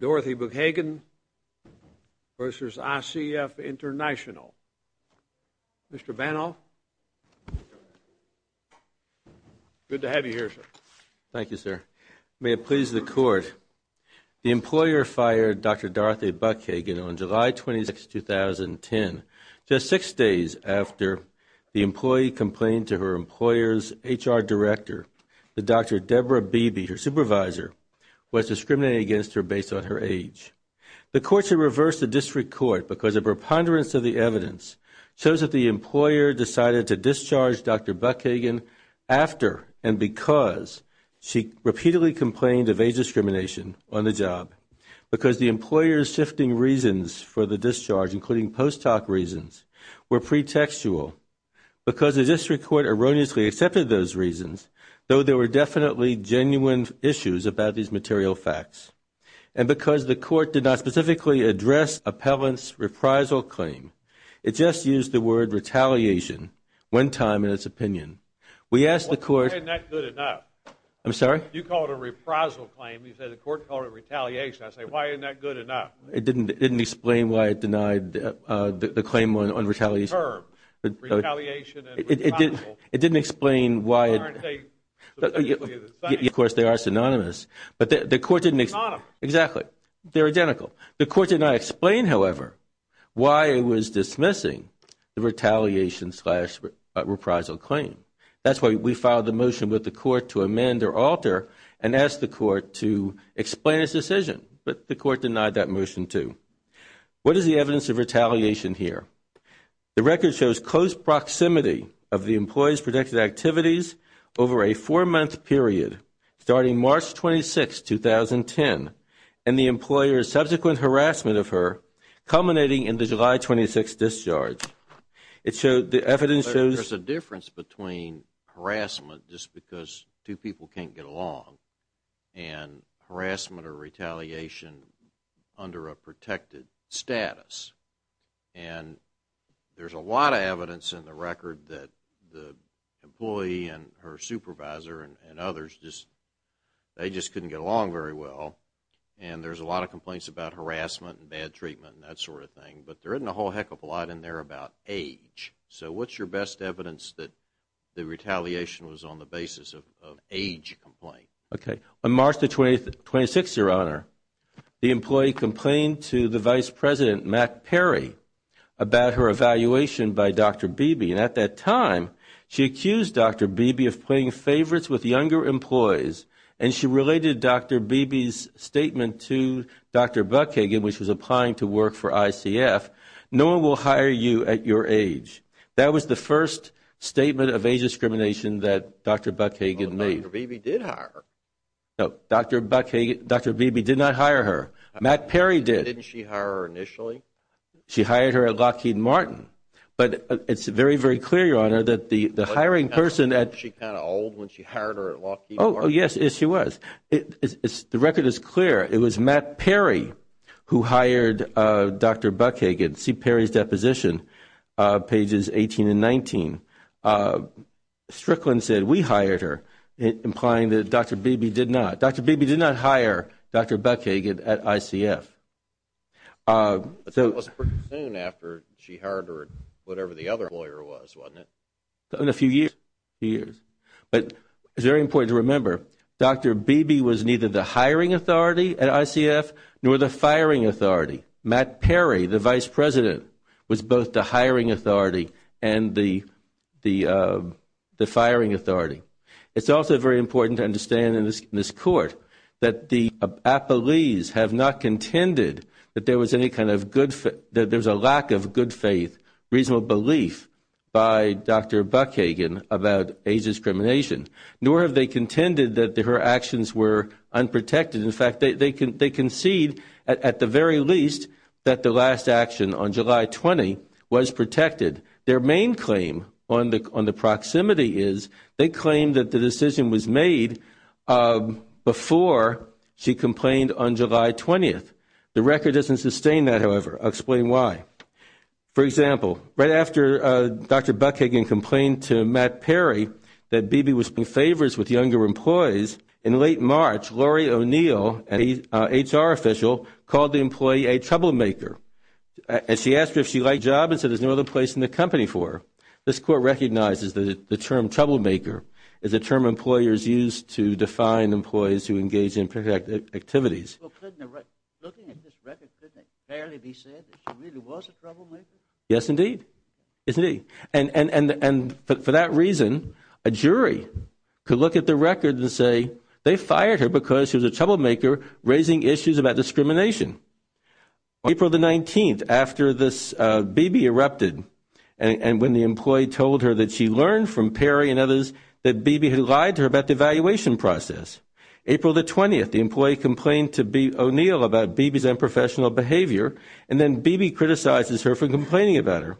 Dorothy Buchhagen v. ICF International. Mr. Vano, good to have you here, sir. Thank you, sir. May it please the Court, the employer fired Dr. Dorothy Buchhagen on July 26, 2010, just six days after the employee complained to her employer's HR director that Dr. Deborah Beebe, her supervisor, was discriminating against her based on her age. The Court should reverse the district court because a preponderance of the evidence shows that the employer decided to discharge Dr. Buchhagen after and because she repeatedly complained of age discrimination on the job, because the employer's shifting reasons for the discharge, including post hoc reasons, were pretextual, because the district court erroneously accepted those reasons, though there were definitely genuine issues about these material facts, and because the Court did not specifically address appellant's reprisal claim. It just used the word retaliation one time in its opinion. We asked the Court – Why isn't that good enough? I'm sorry? You call it a reprisal claim. You say the Court called it retaliation. I say, why isn't that good enough? It didn't explain why it denied the claim on retaliation. Term, retaliation and reprisal. It didn't explain why it – Aren't they the same? Of course, they are synonymous. Synonymous. Exactly. They're identical. The Court did not explain, however, why it was dismissing the retaliation slash reprisal claim. That's why we filed the motion with the Court to amend or alter and ask the Court to explain its decision. But the Court denied that motion, too. What is the evidence of retaliation here? The record shows close proximity of the employee's projected activities over a four-month period starting March 26, 2010, and the employer's subsequent harassment of her culminating in the July 26 discharge. It showed the evidence shows – There's a difference between harassment just because two people can't get along and harassment or retaliation under a protected status. And there's a lot of evidence in the record that the employee and her supervisor and others just – they just couldn't get along very well. And there's a lot of complaints about harassment and bad treatment and that sort of thing. But there isn't a whole heck of a lot in there about age. So what's your best evidence that the retaliation was on the basis of age complaint? Okay. On March 26, Your Honor, the employee complained to the Vice President, Matt Perry, about her evaluation by Dr. Beebe. And at that time, she accused Dr. Beebe of playing favorites with younger employees. And she related Dr. Beebe's statement to Dr. Buckhagen, which was applying to work for ICF. No one will hire you at your age. That was the first statement of age discrimination that Dr. Buckhagen made. But Dr. Beebe did hire her. No, Dr. Beebe did not hire her. Matt Perry did. Didn't she hire her initially? She hired her at Lockheed Martin. But it's very, very clear, Your Honor, that the hiring person at – Wasn't she kind of old when she hired her at Lockheed Martin? Oh, yes. Yes, she was. The record is clear. It was Matt Perry who hired Dr. Buckhagen. See Perry's deposition, pages 18 and 19. Strickland said, we hired her, implying that Dr. Beebe did not. Dr. Beebe did not hire Dr. Buckhagen at ICF. But that was pretty soon after she hired her at whatever the other lawyer was, wasn't it? In a few years, a few years. But it's very important to remember, Dr. Beebe was neither the hiring authority at ICF nor the firing authority. Matt Perry, the vice president, was both the hiring authority and the firing authority. It's also very important to understand in this court that the appellees have not contended that there was any kind of good – that there's a lack of good faith, reasonable belief by Dr. Buckhagen about age discrimination, nor have they contended that her actions were unprotected. In fact, they concede at the very least that the last action on July 20 was protected. Their main claim on the proximity is they claim that the decision was made before she complained on July 20. The record doesn't sustain that, however. I'll explain why. For example, right after Dr. Buckhagen complained to Matt Perry that Beebe was doing favors with younger employees, in late March, Laurie O'Neill, an HR official, called the employee a troublemaker. And she asked her if she liked the job and said there's no other place in the company for her. This court recognizes that the term troublemaker is a term employers use to define employees who engage in activities. Well, looking at this record, couldn't it barely be said that she really was a troublemaker? Yes, indeed. And for that reason, a jury could look at the record and say they fired her because she was a troublemaker raising issues about discrimination. On April 19, after this Beebe erupted and when the employee told her that she learned from Perry and others that Beebe had lied to her about the evaluation process, April 20, the employee complained to O'Neill about Beebe's unprofessional behavior, and then Beebe criticizes her for complaining about her.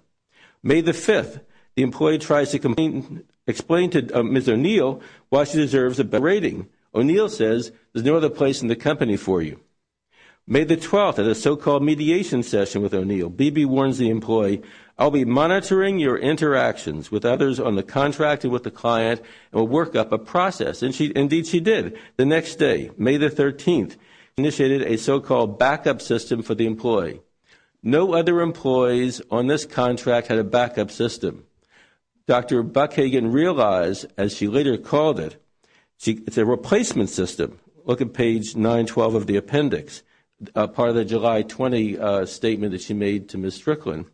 May 5, the employee tries to explain to Ms. O'Neill why she deserves a better rating. O'Neill says there's no other place in the company for you. May 12, at a so-called mediation session with O'Neill, Beebe warns the employee, I'll be monitoring your interactions with others on the contract and with the client and will work up a process. Indeed, she did. The next day, May 13, she initiated a so-called backup system for the employee. No other employees on this contract had a backup system. Dr. Buckhagen realized, as she later called it, it's a replacement system. Look at page 912 of the appendix, part of the July 20 statement that she made to Ms. Strickland.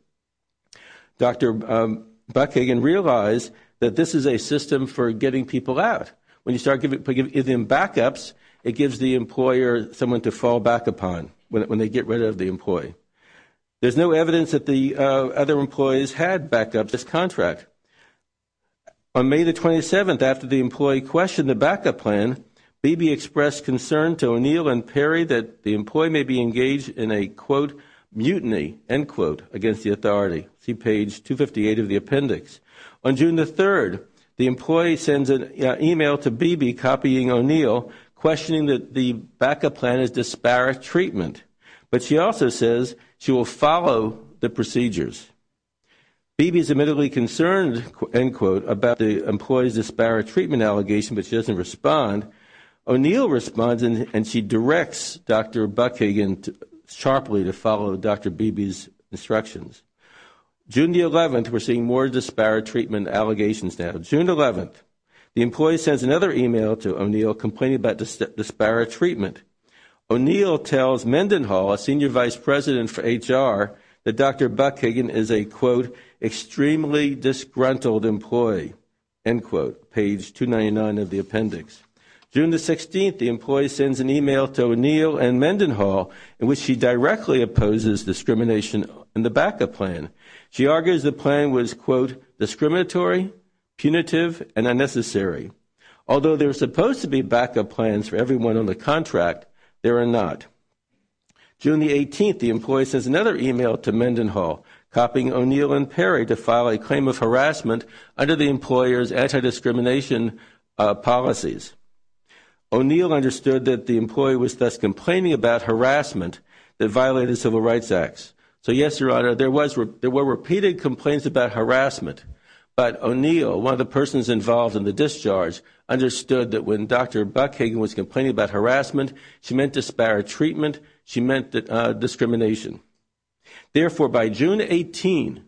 Dr. Buckhagen realized that this is a system for getting people out. When you start giving them backups, it gives the employer someone to fall back upon when they get rid of the employee. There's no evidence that the other employees had backups in this contract. On May 27, after the employee questioned the backup plan, Beebe expressed concern to O'Neill and Perry that the employee may be engaged in a, quote, mutiny, end quote, against the authority. See page 258 of the appendix. On June 3, the employee sends an email to Beebe copying O'Neill, questioning that the backup plan is disparate treatment. But she also says she will follow the procedures. Beebe is admittedly concerned, end quote, about the employee's disparate treatment allegation, but she doesn't respond. O'Neill responds, and she directs Dr. Buckhagen sharply to follow Dr. Beebe's instructions. June 11, we're seeing more disparate treatment allegations now. June 11, the employee sends another email to O'Neill complaining about disparate treatment. O'Neill tells Mendenhall, a senior vice president for HR, that Dr. Buckhagen is a, quote, extremely disgruntled employee, end quote, page 299 of the appendix. June 16, the employee sends an email to O'Neill and Mendenhall in which she directly opposes discrimination in the backup plan. She argues the plan was, quote, discriminatory, punitive, and unnecessary. Although there are supposed to be backup plans for everyone on the contract, there are not. June 18, the employee sends another email to Mendenhall copying O'Neill and Perry to file a claim of harassment under the employer's anti-discrimination policies. O'Neill understood that the employee was thus complaining about harassment that violated Civil Rights Acts. So, yes, Your Honor, there were repeated complaints about harassment, but O'Neill, one of the persons involved in the discharge, understood that when Dr. Buckhagen was complaining about harassment, she meant disparate treatment, she meant discrimination. Therefore, by June 18,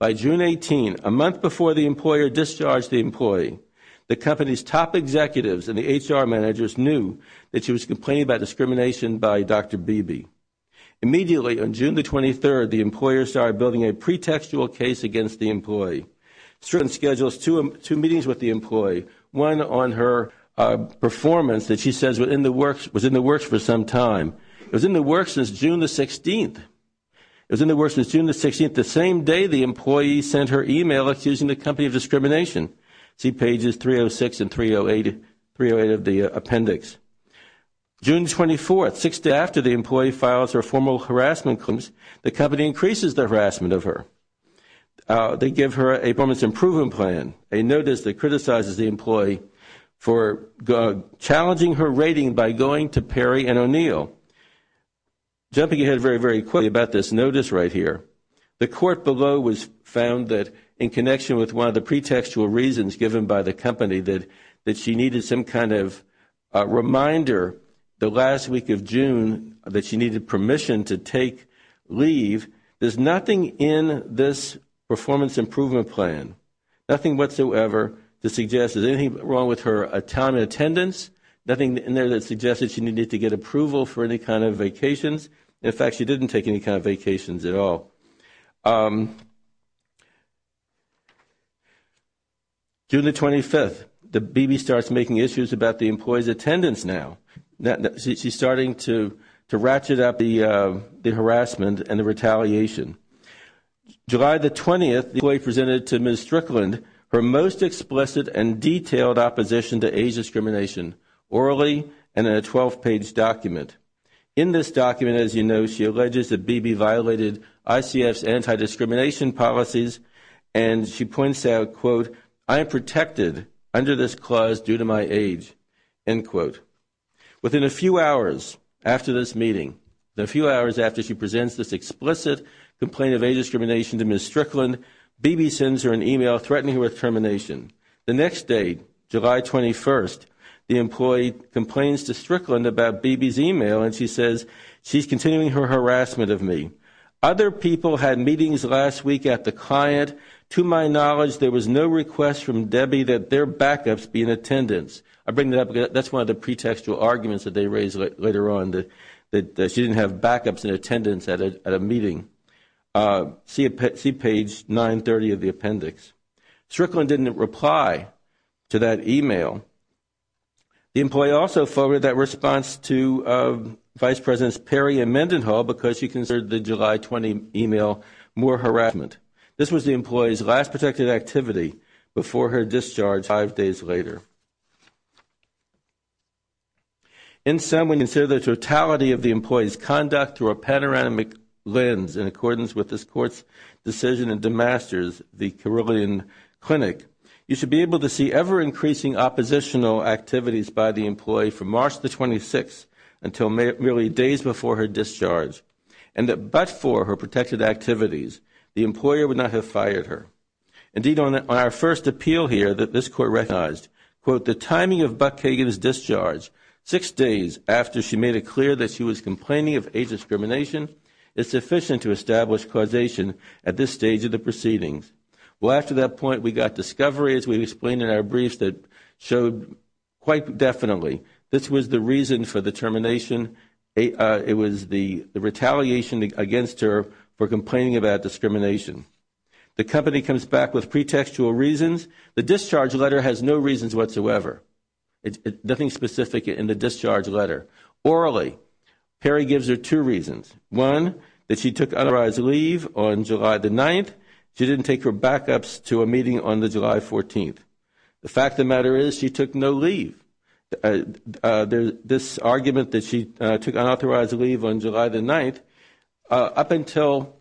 a month before the employer discharged the employee, the company's top executives and the HR managers knew that she was complaining about discrimination by Dr. Beebe. Immediately on June 23, the employer started building a pretextual case against the employee. She scheduled two meetings with the employee. One on her performance that she says was in the works for some time. It was in the works since June 16. It was in the works since June 16, the same day the employee sent her email accusing the company of discrimination. See pages 306 and 308 of the appendix. June 24, six days after the employee files her formal harassment claims, the company increases the harassment of her. They give her a performance improvement plan, a notice that criticizes the employee for challenging her rating by going to Perry and O'Neill. Jumping ahead very, very quickly about this notice right here. The court below found that in connection with one of the pretextual reasons given by the company, that she needed some kind of reminder the last week of June that she needed permission to take leave. There's nothing in this performance improvement plan, nothing whatsoever to suggest there's anything wrong with her time in attendance, nothing in there that suggests that she needed to get approval for any kind of vacations. In fact, she didn't take any kind of vacations at all. June 25, Beebe starts making issues about the employee's attendance now. She's starting to ratchet up the harassment and the retaliation. July the 20th, the employee presented to Ms. Strickland her most explicit and detailed opposition to age discrimination, orally and in a 12-page document. In this document, as you know, she alleges that Beebe violated ICF's anti-discrimination policies and she points out, quote, I am protected under this clause due to my age, end quote. Within a few hours after this meeting, a few hours after she presents this explicit complaint of age discrimination to Ms. Strickland, Beebe sends her an email threatening her with termination. The next day, July 21st, the employee complains to Strickland about Beebe's email and she says she's continuing her harassment of me. Other people had meetings last week at the client. To my knowledge, there was no request from Beebe that their backups be in attendance. I bring that up because that's one of the pretextual arguments that they raised later on, that she didn't have backups in attendance at a meeting. See page 930 of the appendix. Strickland didn't reply to that email. The employee also forwarded that response to Vice Presidents Perry and Mendenhall because she considered the July 20 email more harassment. This was the employee's last protected activity before her discharge five days later. In sum, when you consider the totality of the employee's conduct through a panoramic lens in accordance with this court's decision in DeMasters, the Carilion Clinic, you should be able to see ever-increasing oppositional activities by the employee from March 26th until merely days before her discharge, and that but for her protected activities, the employer would not have fired her. Indeed, on our first appeal here, this court recognized, quote, the timing of Buckhagen's discharge six days after she made it clear that she was complaining of age discrimination is sufficient to establish causation at this stage of the proceedings. Well, after that point, we got discovery, as we explained in our briefs, that showed quite definitely this was the reason for the termination. It was the retaliation against her for complaining about discrimination. The company comes back with pretextual reasons. The discharge letter has no reasons whatsoever, nothing specific in the discharge letter. Orally, Perry gives her two reasons. One, that she took unauthorized leave on July the 9th. She didn't take her backups to a meeting on the July 14th. The fact of the matter is she took no leave. This argument that she took unauthorized leave on July the 9th, up until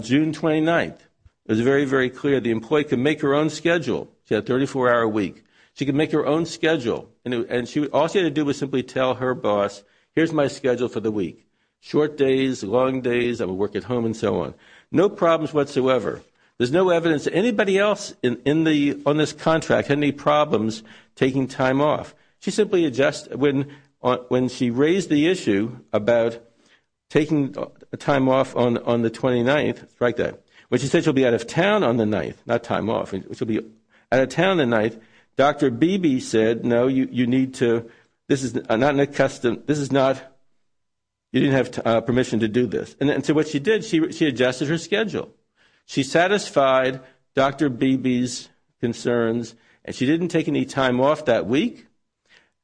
June 29th, it was very, very clear the employee could make her own schedule. She had a 34-hour week. She could make her own schedule. All she had to do was simply tell her boss, here's my schedule for the week. Short days, long days, I will work at home, and so on. No problems whatsoever. There's no evidence that anybody else on this contract had any problems taking time off. When she raised the issue about taking time off on the 29th, when she said she'll be out of town on the 9th, not time off, she'll be out of town on the 9th, Dr. Beebe said, no, you need to, this is not an accustomed, this is not, you didn't have permission to do this. And so what she did, she adjusted her schedule. She satisfied Dr. Beebe's concerns, and she didn't take any time off that week,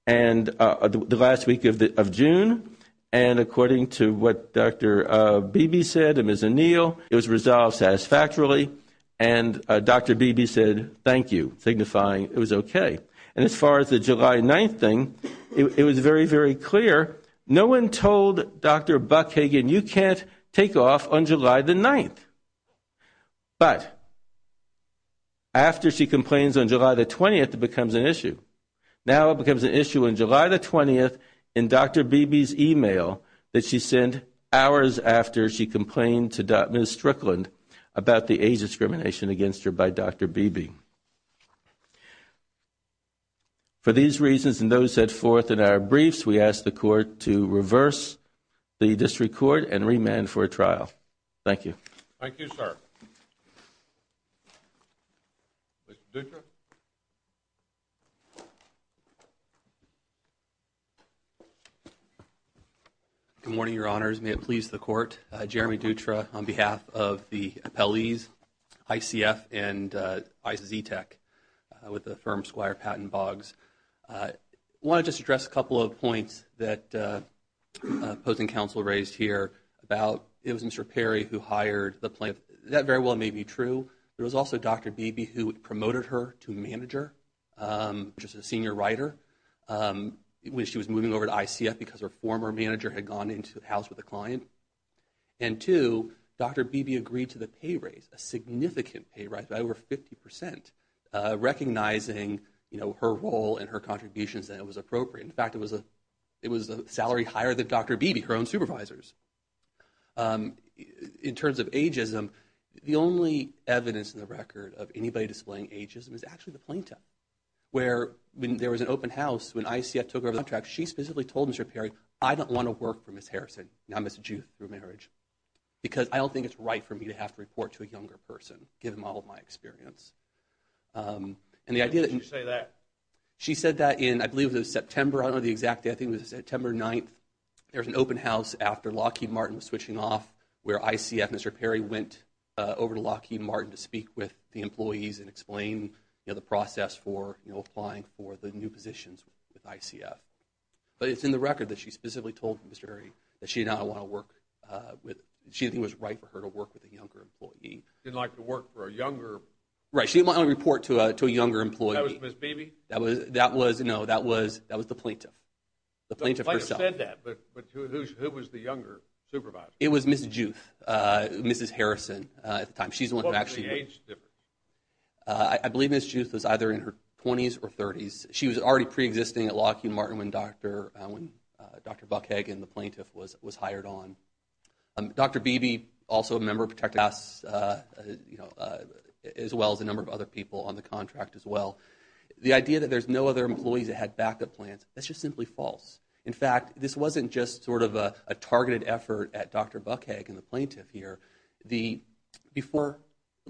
the last week of June. And according to what Dr. Beebe said and Ms. O'Neill, it was resolved satisfactorily. And Dr. Beebe said, thank you, signifying it was okay. And as far as the July 9th thing, it was very, very clear. No one told Dr. Buckhagen, you can't take off on July the 9th. But after she complains on July the 20th, it becomes an issue. Now it becomes an issue on July the 20th in Dr. Beebe's e-mail that she sent hours after she complained to Ms. Strickland about the age discrimination against her by Dr. Beebe. For these reasons and those set forth in our briefs, we ask the Court to reverse the district court and remand for a trial. Thank you. Thank you, sir. Mr. Dutra. Thank you. Good morning, Your Honors. May it please the Court. Jeremy Dutra on behalf of the appellees, ICF and ICETEC, with the firm Squire Patent Boggs. I want to just address a couple of points that opposing counsel raised here about it was Mr. Perry who hired the plaintiff. That very well may be true. There was also Dr. Beebe who promoted her to manager, which is a senior writer, when she was moving over to ICF because her former manager had gone into the house with a client. And two, Dr. Beebe agreed to the pay raise, a significant pay raise, by over 50%, recognizing, you know, her role and her contributions that it was appropriate. In fact, it was a salary higher than Dr. Beebe, her own supervisors. In terms of ageism, the only evidence in the record of anybody displaying ageism is actually the plaintiff. Where when there was an open house, when ICF took over the contract, she specifically told Mr. Perry, I don't want to work for Ms. Harrison, now Ms. Juth, through marriage. Because I don't think it's right for me to have to report to a younger person, given all of my experience. And the idea that you say that. She said that in, I believe it was September, I don't know the exact date, I think it was September 9th. There was an open house after Lockheed Martin was switching off, where ICF, Mr. Perry went over to Lockheed Martin to speak with the employees and explain the process for applying for the new positions with ICF. But it's in the record that she specifically told Mr. Perry that she did not want to work with, she didn't think it was right for her to work with a younger employee. Didn't like to work for a younger. Right, she didn't want to report to a younger employee. That was Ms. Beebe? That was, no, that was the plaintiff. The plaintiff herself. The plaintiff said that, but who was the younger supervisor? It was Ms. Juth, Mrs. Harrison at the time. She's the one who actually. What was the age difference? I believe Ms. Juth was either in her 20s or 30s. She was already preexisting at Lockheed Martin when Dr. Buckhagen, the plaintiff, was hired on. Dr. Beebe, also a member of ProtectICAS, as well as a number of other people on the contract as well. The idea that there's no other employees that had backup plans, that's just simply false. In fact, this wasn't just sort of a targeted effort at Dr. Buckhagen, the plaintiff here. Before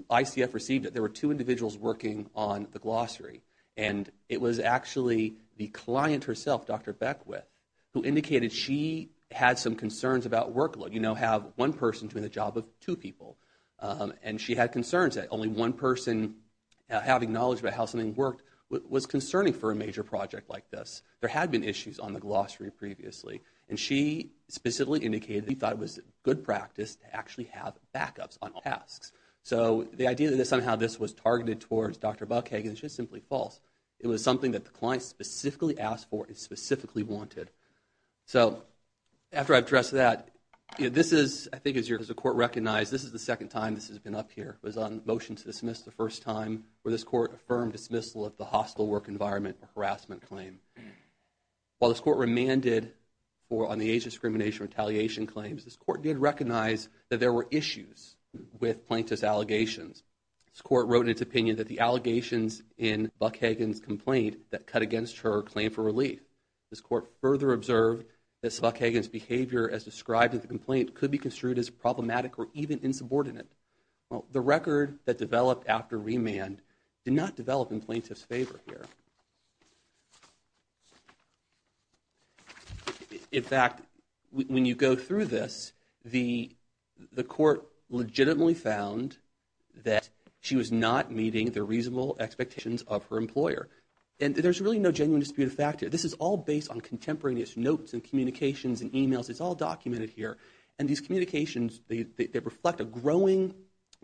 ICF received it, there were two individuals working on the glossary. And it was actually the client herself, Dr. Beckwith, who indicated she had some concerns about workload. You know, have one person doing the job of two people. And she had concerns that only one person having knowledge about how something worked was concerning for a major project like this. There had been issues on the glossary previously. And she specifically indicated that she thought it was good practice to actually have backups on all tasks. So the idea that somehow this was targeted towards Dr. Buckhagen is just simply false. It was something that the client specifically asked for and specifically wanted. So after I've addressed that, this is, I think, as the court recognized, this is the second time this has been up here. It was on motion to dismiss the first time where this court affirmed the dismissal of the hostile work environment harassment claim. While this court remanded on the age discrimination retaliation claims, this court did recognize that there were issues with plaintiff's allegations. This court wrote in its opinion that the allegations in Buckhagen's complaint that cut against her claim for relief. This court further observed that Buckhagen's behavior as described in the complaint could be construed as problematic or even insubordinate. The record that developed after remand did not develop in plaintiff's favor here. In fact, when you go through this, the court legitimately found that she was not meeting the reasonable expectations of her employer. And there's really no genuine dispute of fact here. This is all based on contemporaneous notes and communications and emails. It's all documented here. And these communications, they reflect a growing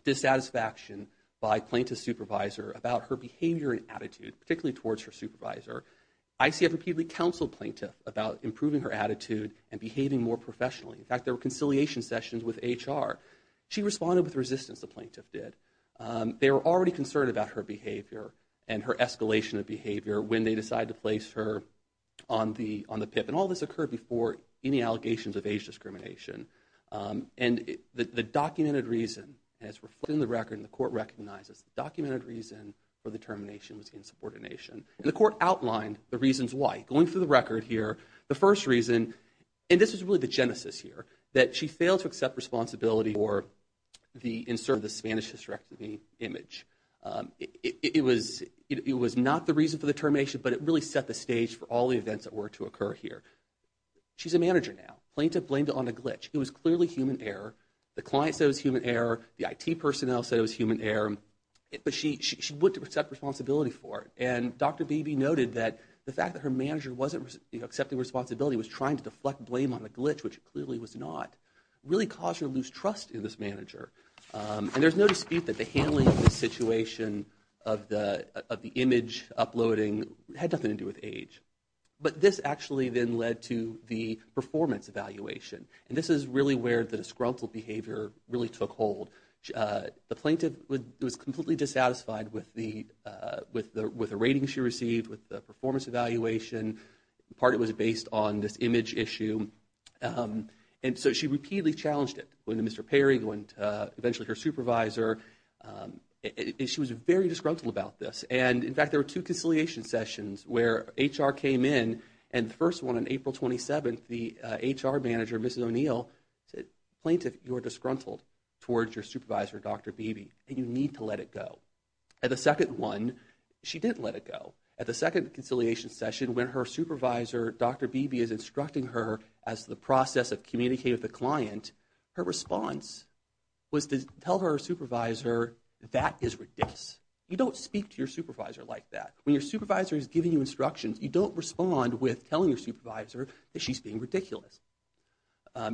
dissatisfaction by plaintiff's supervisor about her behavior and attitude, particularly towards her supervisor. ICF repeatedly counseled plaintiff about improving her attitude and behaving more professionally. In fact, there were conciliation sessions with HR. She responded with resistance, the plaintiff did. They were already concerned about her behavior and her escalation of behavior when they decided to place her on the PIP. And all this occurred before any allegations of age discrimination. And the documented reason, as reflected in the record, and the court recognizes, the documented reason for the termination was insubordination. And the court outlined the reasons why. Going through the record here, the first reason, and this is really the genesis here, that she failed to accept responsibility for the insert of the Spanish hysterectomy image. It was not the reason for the termination, but it really set the stage for all the events that were to occur here. She's a manager now. Plaintiff blamed it on a glitch. It was clearly human error. The client said it was human error. The IT personnel said it was human error. But she wouldn't accept responsibility for it. And Dr. Beebe noted that the fact that her manager wasn't accepting responsibility, was trying to deflect blame on the glitch, which clearly was not, really caused her to lose trust in this manager. And there's no dispute that the handling of this situation of the image uploading had nothing to do with age. But this actually then led to the performance evaluation. And this is really where the disgruntled behavior really took hold. The plaintiff was completely dissatisfied with the ratings she received, with the performance evaluation. Part of it was based on this image issue. And so she repeatedly challenged it. Went to Mr. Perry, went to eventually her supervisor. She was very disgruntled about this. And, in fact, there were two conciliation sessions where HR came in, and the first one on April 27th, the HR manager, Mrs. O'Neill, said, Plaintiff, you are disgruntled towards your supervisor, Dr. Beebe, and you need to let it go. At the second one, she didn't let it go. At the second conciliation session, when her supervisor, Dr. Beebe, is instructing her as to the process of communicating with the client, her response was to tell her supervisor, that is ridiculous. You don't speak to your supervisor like that. When your supervisor is giving you instructions, you don't respond with telling your supervisor that she's being ridiculous.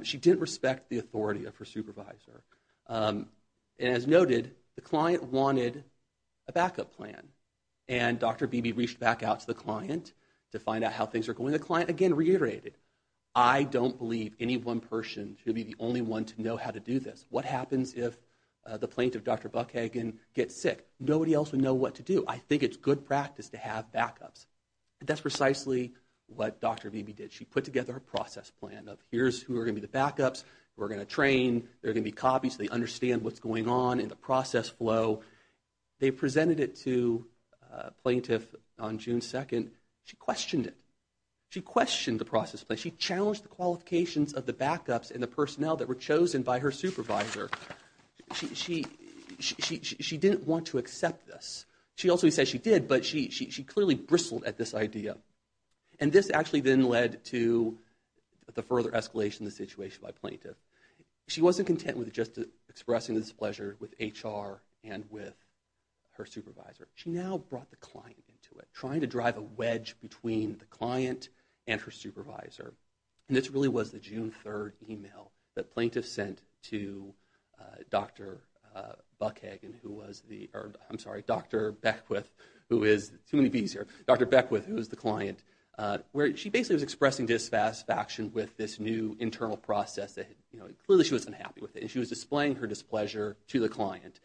She didn't respect the authority of her supervisor. And, as noted, the client wanted a backup plan. And Dr. Beebe reached back out to the client to find out how things were going. The client, again, reiterated, I don't believe any one person should be the only one to know how to do this. What happens if the plaintiff, Dr. Buckhagen, gets sick? Nobody else would know what to do. I think it's good practice to have backups. That's precisely what Dr. Beebe did. She put together a process plan of here's who are going to be the backups, who are going to train, there are going to be copies, so they understand what's going on in the process flow. They presented it to a plaintiff on June 2nd. She questioned it. She questioned the process plan. She challenged the qualifications of the backups and the personnel that were chosen by her supervisor. She didn't want to accept this. She also said she did, but she clearly bristled at this idea. And this actually then led to the further escalation of the situation by plaintiff. She wasn't content with just expressing this pleasure with HR and with her supervisor. She now brought the client into it, trying to drive a wedge between the client and her supervisor. And this really was the June 3rd email that plaintiff sent to Dr. Buckhagen, who was the, I'm sorry, Dr. Beckwith, who is, too many Bs here, Dr. Beckwith, who was the client, where she basically was expressing dissatisfaction with this new internal process. Clearly she was unhappy with it. She was displaying her displeasure to the client.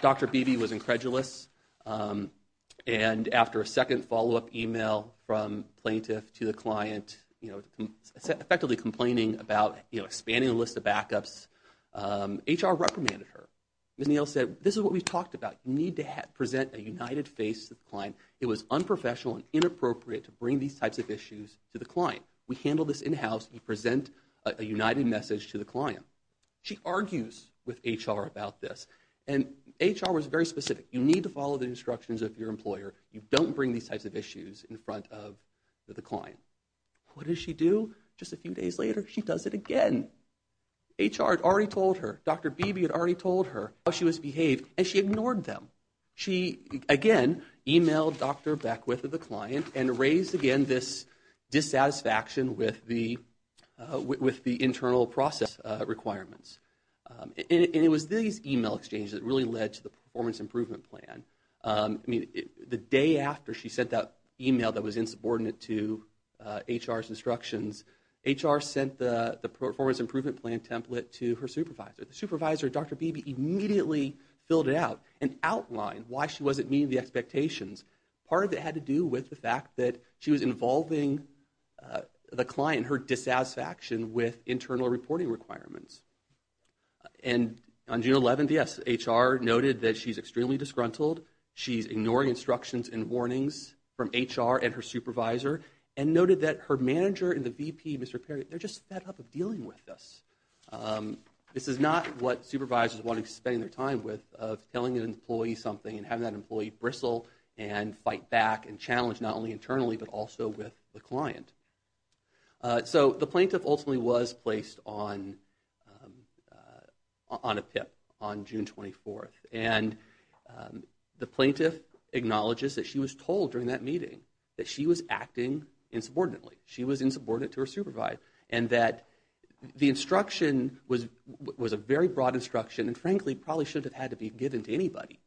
Dr. Beebe was incredulous. And after a second follow-up email from plaintiff to the client, effectively complaining about expanding the list of backups, HR reprimanded her. Ms. Neal said, this is what we've talked about. You need to present a united face to the client. It was unprofessional and inappropriate to bring these types of issues to the client. We handle this in-house. You present a united message to the client. She argues with HR about this. And HR was very specific. You need to follow the instructions of your employer. You don't bring these types of issues in front of the client. What did she do just a few days later? She does it again. HR had already told her. Dr. Beebe had already told her how she was behaving, and she ignored them. She, again, emailed Dr. Beckwith, the client, and raised again this dissatisfaction with the internal process requirements. And it was these email exchanges that really led to the performance improvement plan. The day after she sent that email that was insubordinate to HR's instructions, HR sent the performance improvement plan template to her supervisor. The supervisor, Dr. Beebe, immediately filled it out and outlined why she wasn't meeting the expectations. Part of it had to do with the fact that she was involving the client, and her dissatisfaction with internal reporting requirements. And on June 11th, yes, HR noted that she's extremely disgruntled. She's ignoring instructions and warnings from HR and her supervisor and noted that her manager and the VP, Mr. Perry, they're just fed up of dealing with this. This is not what supervisors want to be spending their time with, of telling an employee something and having that employee bristle and fight back and challenge not only internally but also with the client. So the plaintiff ultimately was placed on a PIP on June 24th. And the plaintiff acknowledges that she was told during that meeting that she was acting insubordinately. She was insubordinate to her supervisor. And that the instruction was a very broad instruction and frankly probably shouldn't have had to be given to anybody.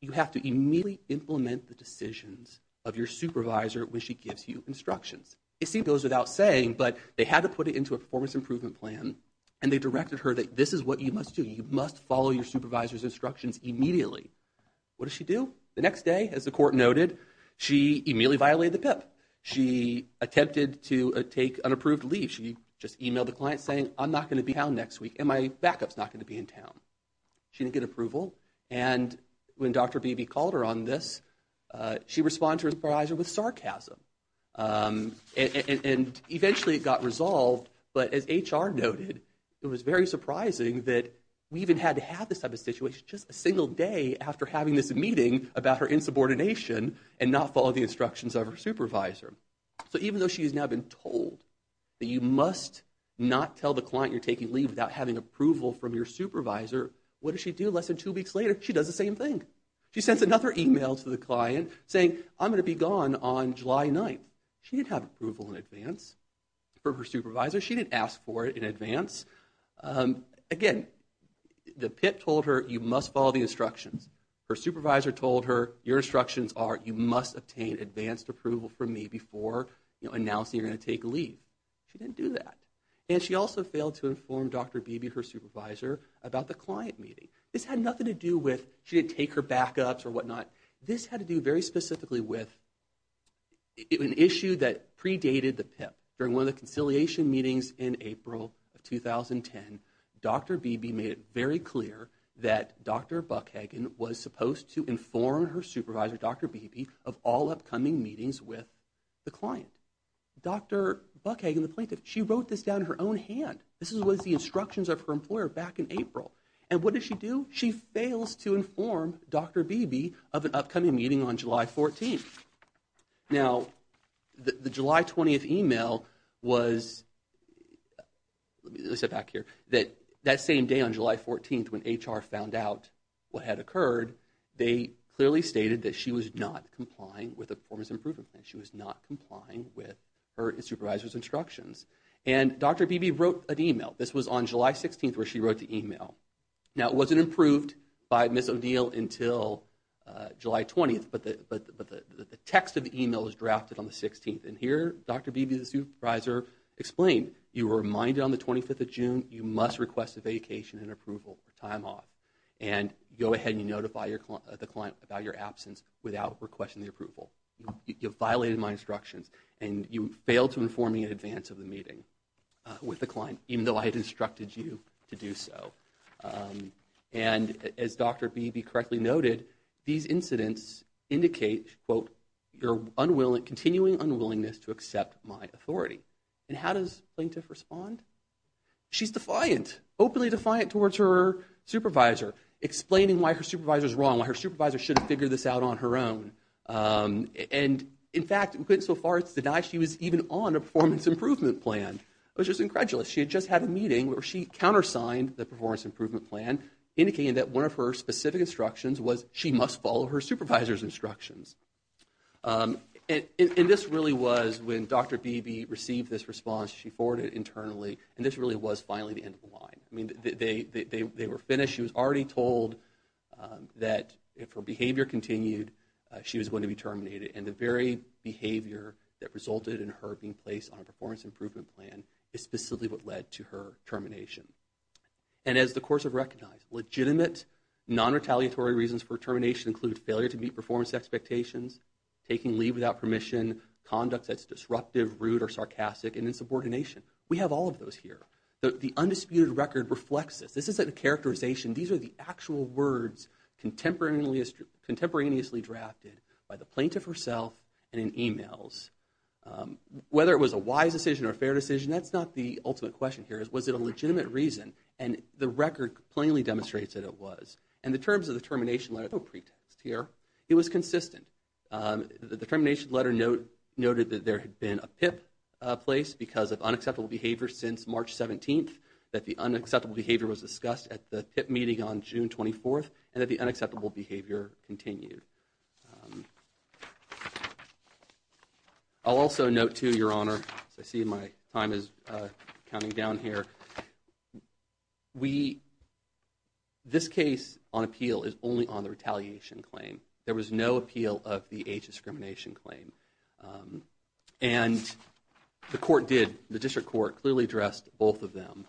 You have to immediately implement the decisions of your supervisor when she gives you instructions. It seems it goes without saying, but they had to put it into a performance improvement plan and they directed her that this is what you must do. You must follow your supervisor's instructions immediately. What does she do? The next day, as the court noted, she immediately violated the PIP. She attempted to take unapproved leave. She just emailed the client saying, I'm not going to be in town next week and my backup's not going to be in town. She didn't get approval. And when Dr. Beebe called her on this, she responded to her supervisor with sarcasm. And eventually it got resolved, but as HR noted, it was very surprising that we even had to have this type of situation just a single day after having this meeting about her insubordination and not follow the instructions of her supervisor. So even though she has now been told that you must not tell the client you're taking leave without having approval from your supervisor, what does she do less than two weeks later? She does the same thing. She sends another email to the client saying, I'm going to be gone on July 9th. She didn't have approval in advance from her supervisor. She didn't ask for it in advance. Again, the PIP told her you must follow the instructions. Her supervisor told her your instructions are you must obtain advanced approval from me before announcing you're going to take leave. She didn't do that. And she also failed to inform Dr. Beebe, her supervisor, about the client meeting. This had nothing to do with she didn't take her backups or whatnot. This had to do very specifically with an issue that predated the PIP. During one of the conciliation meetings in April of 2010, Dr. Beebe made it very clear that Dr. Buckhagen was supposed to inform her supervisor, Dr. Beebe, of all upcoming meetings with the client. Dr. Buckhagen, the plaintiff, she wrote this down in her own hand. This was the instructions of her employer back in April. And what does she do? She fails to inform Dr. Beebe of an upcoming meeting on July 14th. Now, the July 20th email was, let me sit back here, that that same day on July 14th when HR found out what had occurred, they clearly stated that she was not complying with a performance improvement plan. She was not complying with her supervisor's instructions. And Dr. Beebe wrote an email. This was on July 16th where she wrote the email. Now, it wasn't approved by Ms. O'Neill until July 20th, but the text of the email was drafted on the 16th. And here Dr. Beebe, the supervisor, explained, you were reminded on the 25th of June you must request a vacation and approval for time off. And go ahead and notify the client about your absence without requesting the approval. You have violated my instructions, and you failed to inform me in advance of the meeting with the client, even though I had instructed you to do so. And as Dr. Beebe correctly noted, these incidents indicate, quote, your continuing unwillingness to accept my authority. And how does plaintiff respond? She's defiant, openly defiant towards her supervisor, explaining why her supervisor is wrong, why her supervisor should have figured this out on her own. And, in fact, we couldn't so far as to deny she was even on a performance improvement plan. It was just incredulous. She had just had a meeting where she countersigned the performance improvement plan, indicating that one of her specific instructions was she must follow her supervisor's instructions. And this really was when Dr. Beebe received this response. She forwarded it internally, and this really was finally the end of the line. I mean, they were finished. She was already told that if her behavior continued, she was going to be terminated. And the very behavior that resulted in her being placed on a performance improvement plan is specifically what led to her termination. And as the courts have recognized, legitimate non-retaliatory reasons for termination include failure to meet performance expectations, taking leave without permission, conduct that's disruptive, rude, or sarcastic, and insubordination. We have all of those here. The undisputed record reflects this. This isn't a characterization. These are the actual words contemporaneously drafted by the plaintiff herself and in e-mails. Whether it was a wise decision or a fair decision, that's not the ultimate question here. Was it a legitimate reason? And the record plainly demonstrates that it was. And the terms of the termination letter, no pretext here, it was consistent. The termination letter noted that there had been a PIP place because of unacceptable behavior since March 17th, that the unacceptable behavior was discussed at the PIP meeting on June 24th, and that the unacceptable behavior continued. I'll also note, too, Your Honor, as I see my time is counting down here, this case on appeal is only on the retaliation claim. There was no appeal of the age discrimination claim. And the court did, the district court clearly addressed both of them.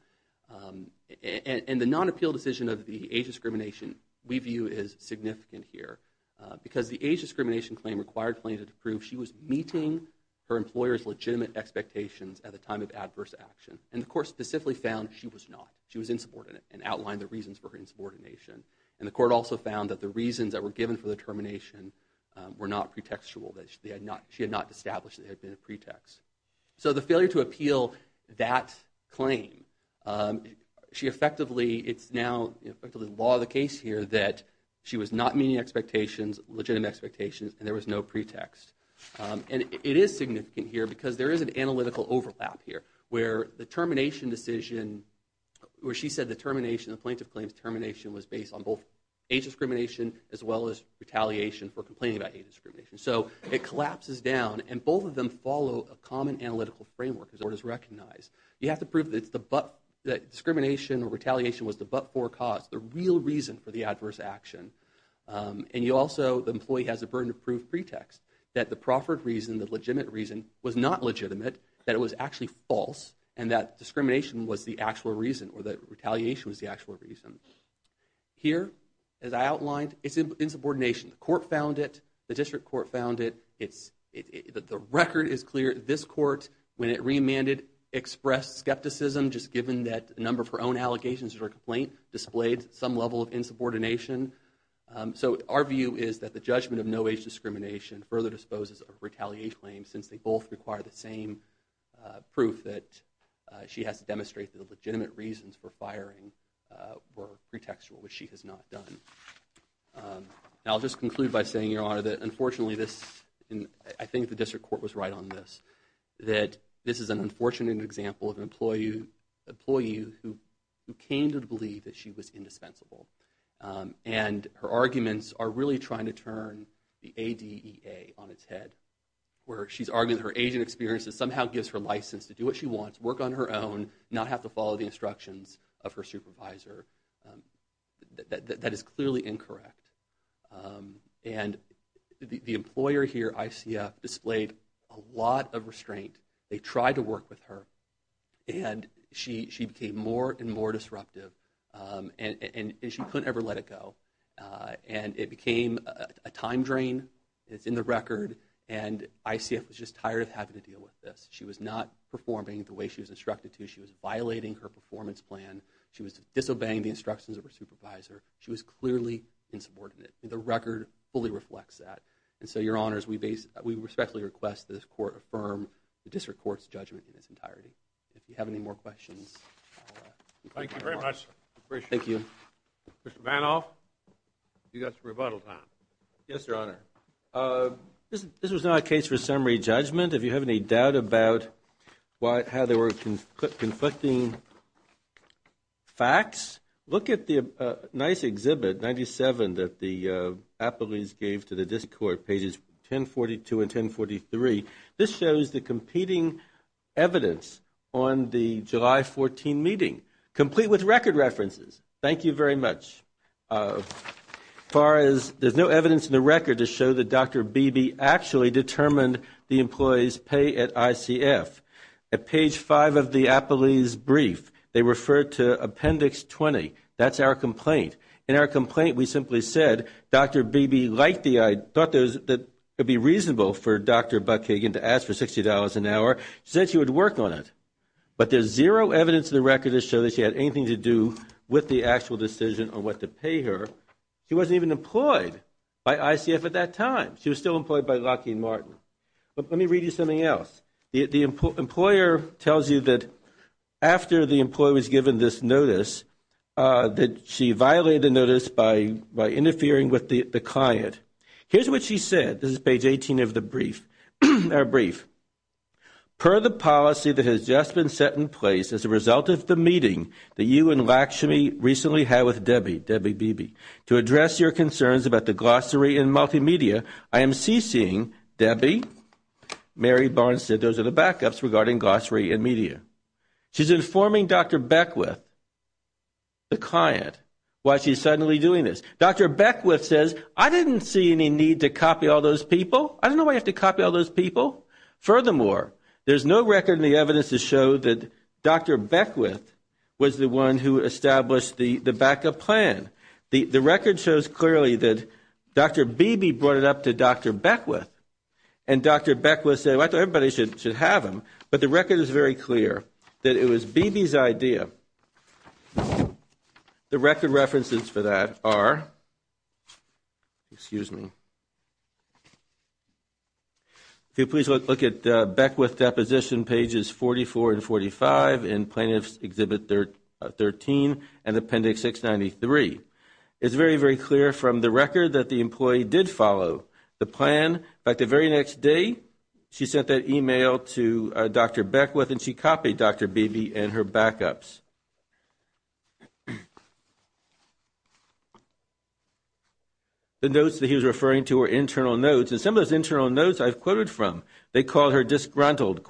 And the non-appeal decision of the age discrimination we view is significant here because the age discrimination claim required plaintiff to prove she was meeting her employer's legitimate expectations at the time of adverse action. And the court specifically found she was not. She was insubordinate and outlined the reasons for her insubordination. And the court also found that the reasons that were given for the termination were not pretextual, that she had not established that it had been a pretext. So the failure to appeal that claim, she effectively, it's now effectively the law of the case here that she was not meeting expectations, legitimate expectations, and there was no pretext. And it is significant here because there is an analytical overlap here where the termination decision, where she said the termination, the plaintiff claims termination was based on both age discrimination as well as retaliation for complaining about age discrimination. So it collapses down, and both of them follow a common analytical framework as the court has recognized. You have to prove that discrimination or retaliation was the but-for cause, the real reason for the adverse action. And you also, the employee has a burden of proof pretext that the proffered reason, the legitimate reason, was not legitimate, that it was actually false, and that discrimination was the actual reason or that retaliation was the actual reason. Here, as I outlined, it's insubordination. The court found it. The district court found it. The record is clear. This court, when it remanded, expressed skepticism just given that a number of her own allegations or complaint displayed some level of insubordination. So our view is that the judgment of no age discrimination further disposes of retaliation claims since they both require the same proof that she has to demonstrate that the legitimate reasons for firing were pretextual, which she has not done. Now, I'll just conclude by saying, Your Honor, that unfortunately this, and I think the district court was right on this, that this is an unfortunate example of an employee who came to believe that she was indispensable. And her arguments are really trying to turn the ADEA on its head, where she's arguing her age and experience that somehow gives her license to do what she wants, work on her own, not have to follow the instructions of her supervisor. That is clearly incorrect. And the employer here, ICF, displayed a lot of restraint. They tried to work with her, and she became more and more disruptive, and she couldn't ever let it go. And it became a time drain. It's in the record, and ICF was just tired of having to deal with this. She was not performing the way she was instructed to. She was violating her performance plan. She was disobeying the instructions of her supervisor. She was clearly insubordinate. The record fully reflects that. And so, Your Honors, we respectfully request that this court affirm the district court's judgment in its entirety. If you have any more questions. Thank you very much. Thank you. Mr. Vanoff, you've got some rebuttal time. Yes, Your Honor. This was not a case for summary judgment. If you have any doubt about how there were conflicting facts, look at the nice exhibit, 97, that the appellees gave to the district court, pages 1042 and 1043. This shows the competing evidence on the July 14 meeting, complete with record references. Thank you very much. As far as, there's no evidence in the record to show that Dr. Beebe actually determined the employee's pay at ICF. At page 5 of the appellee's brief, they referred to Appendix 20. That's our complaint. In our complaint, we simply said, Dr. Beebe thought it would be reasonable for Dr. Buckhagen to ask for $60 an hour. She said she would work on it. But there's zero evidence in the record to show that she had anything to do with the actual decision on what to pay her. She wasn't even employed by ICF at that time. She was still employed by Lockheed Martin. Let me read you something else. The employer tells you that after the employee was given this notice, that she violated the notice by interfering with the client. Here's what she said. This is page 18 of the brief. Per the policy that has just been set in place as a result of the meeting that you and Lakshmi recently had with Debbie, Debbie Beebe, to address your concerns about the glossary and multimedia, I am ceasing Debbie. Mary Barnes said those are the backups regarding glossary and media. She's informing Dr. Beckwith, the client, why she's suddenly doing this. Dr. Beckwith says, I didn't see any need to copy all those people. I don't know why you have to copy all those people. Furthermore, there's no record in the evidence to show that Dr. Beckwith was the one who established the backup plan. The record shows clearly that Dr. Beebe brought it up to Dr. Beckwith, and Dr. Beckwith said, well, I thought everybody should have them. But the record is very clear that it was Beebe's idea. The record references for that are, if you'll please look at Beckwith deposition pages 44 and 45 in Plaintiffs' Exhibit 13 and Appendix 693. It's very, very clear from the record that the employee did follow the plan. By the very next day, she sent that email to Dr. Beckwith, and she copied Dr. Beebe and her backups. The notes that he was referring to were internal notes, and some of those internal notes I've quoted from, they called her disgruntled.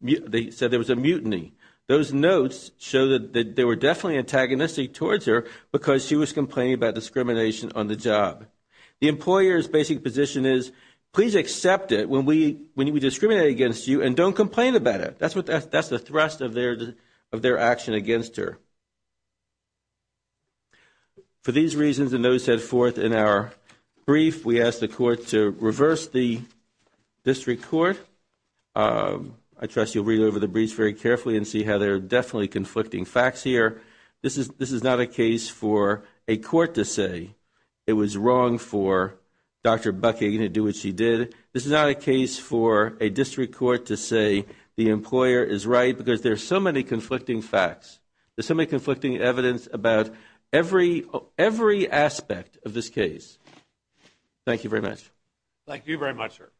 They said there was a mutiny. Those notes show that they were definitely antagonistic towards her because she was complaining about discrimination on the job. The employer's basic position is, please accept it when we discriminate against you and don't complain about it. That's the thrust of their action against her. For these reasons, the notes head forth in our brief. We ask the court to reverse the district court. I trust you'll read over the brief very carefully and see how there are definitely conflicting facts here. This is not a case for a court to say it was wrong for Dr. Buckingham to do what she did. This is not a case for a district court to say the employer is right because there are so many conflicting facts. There's so many conflicting evidence about every aspect of this case. Thank you very much. Thank you very much, sir.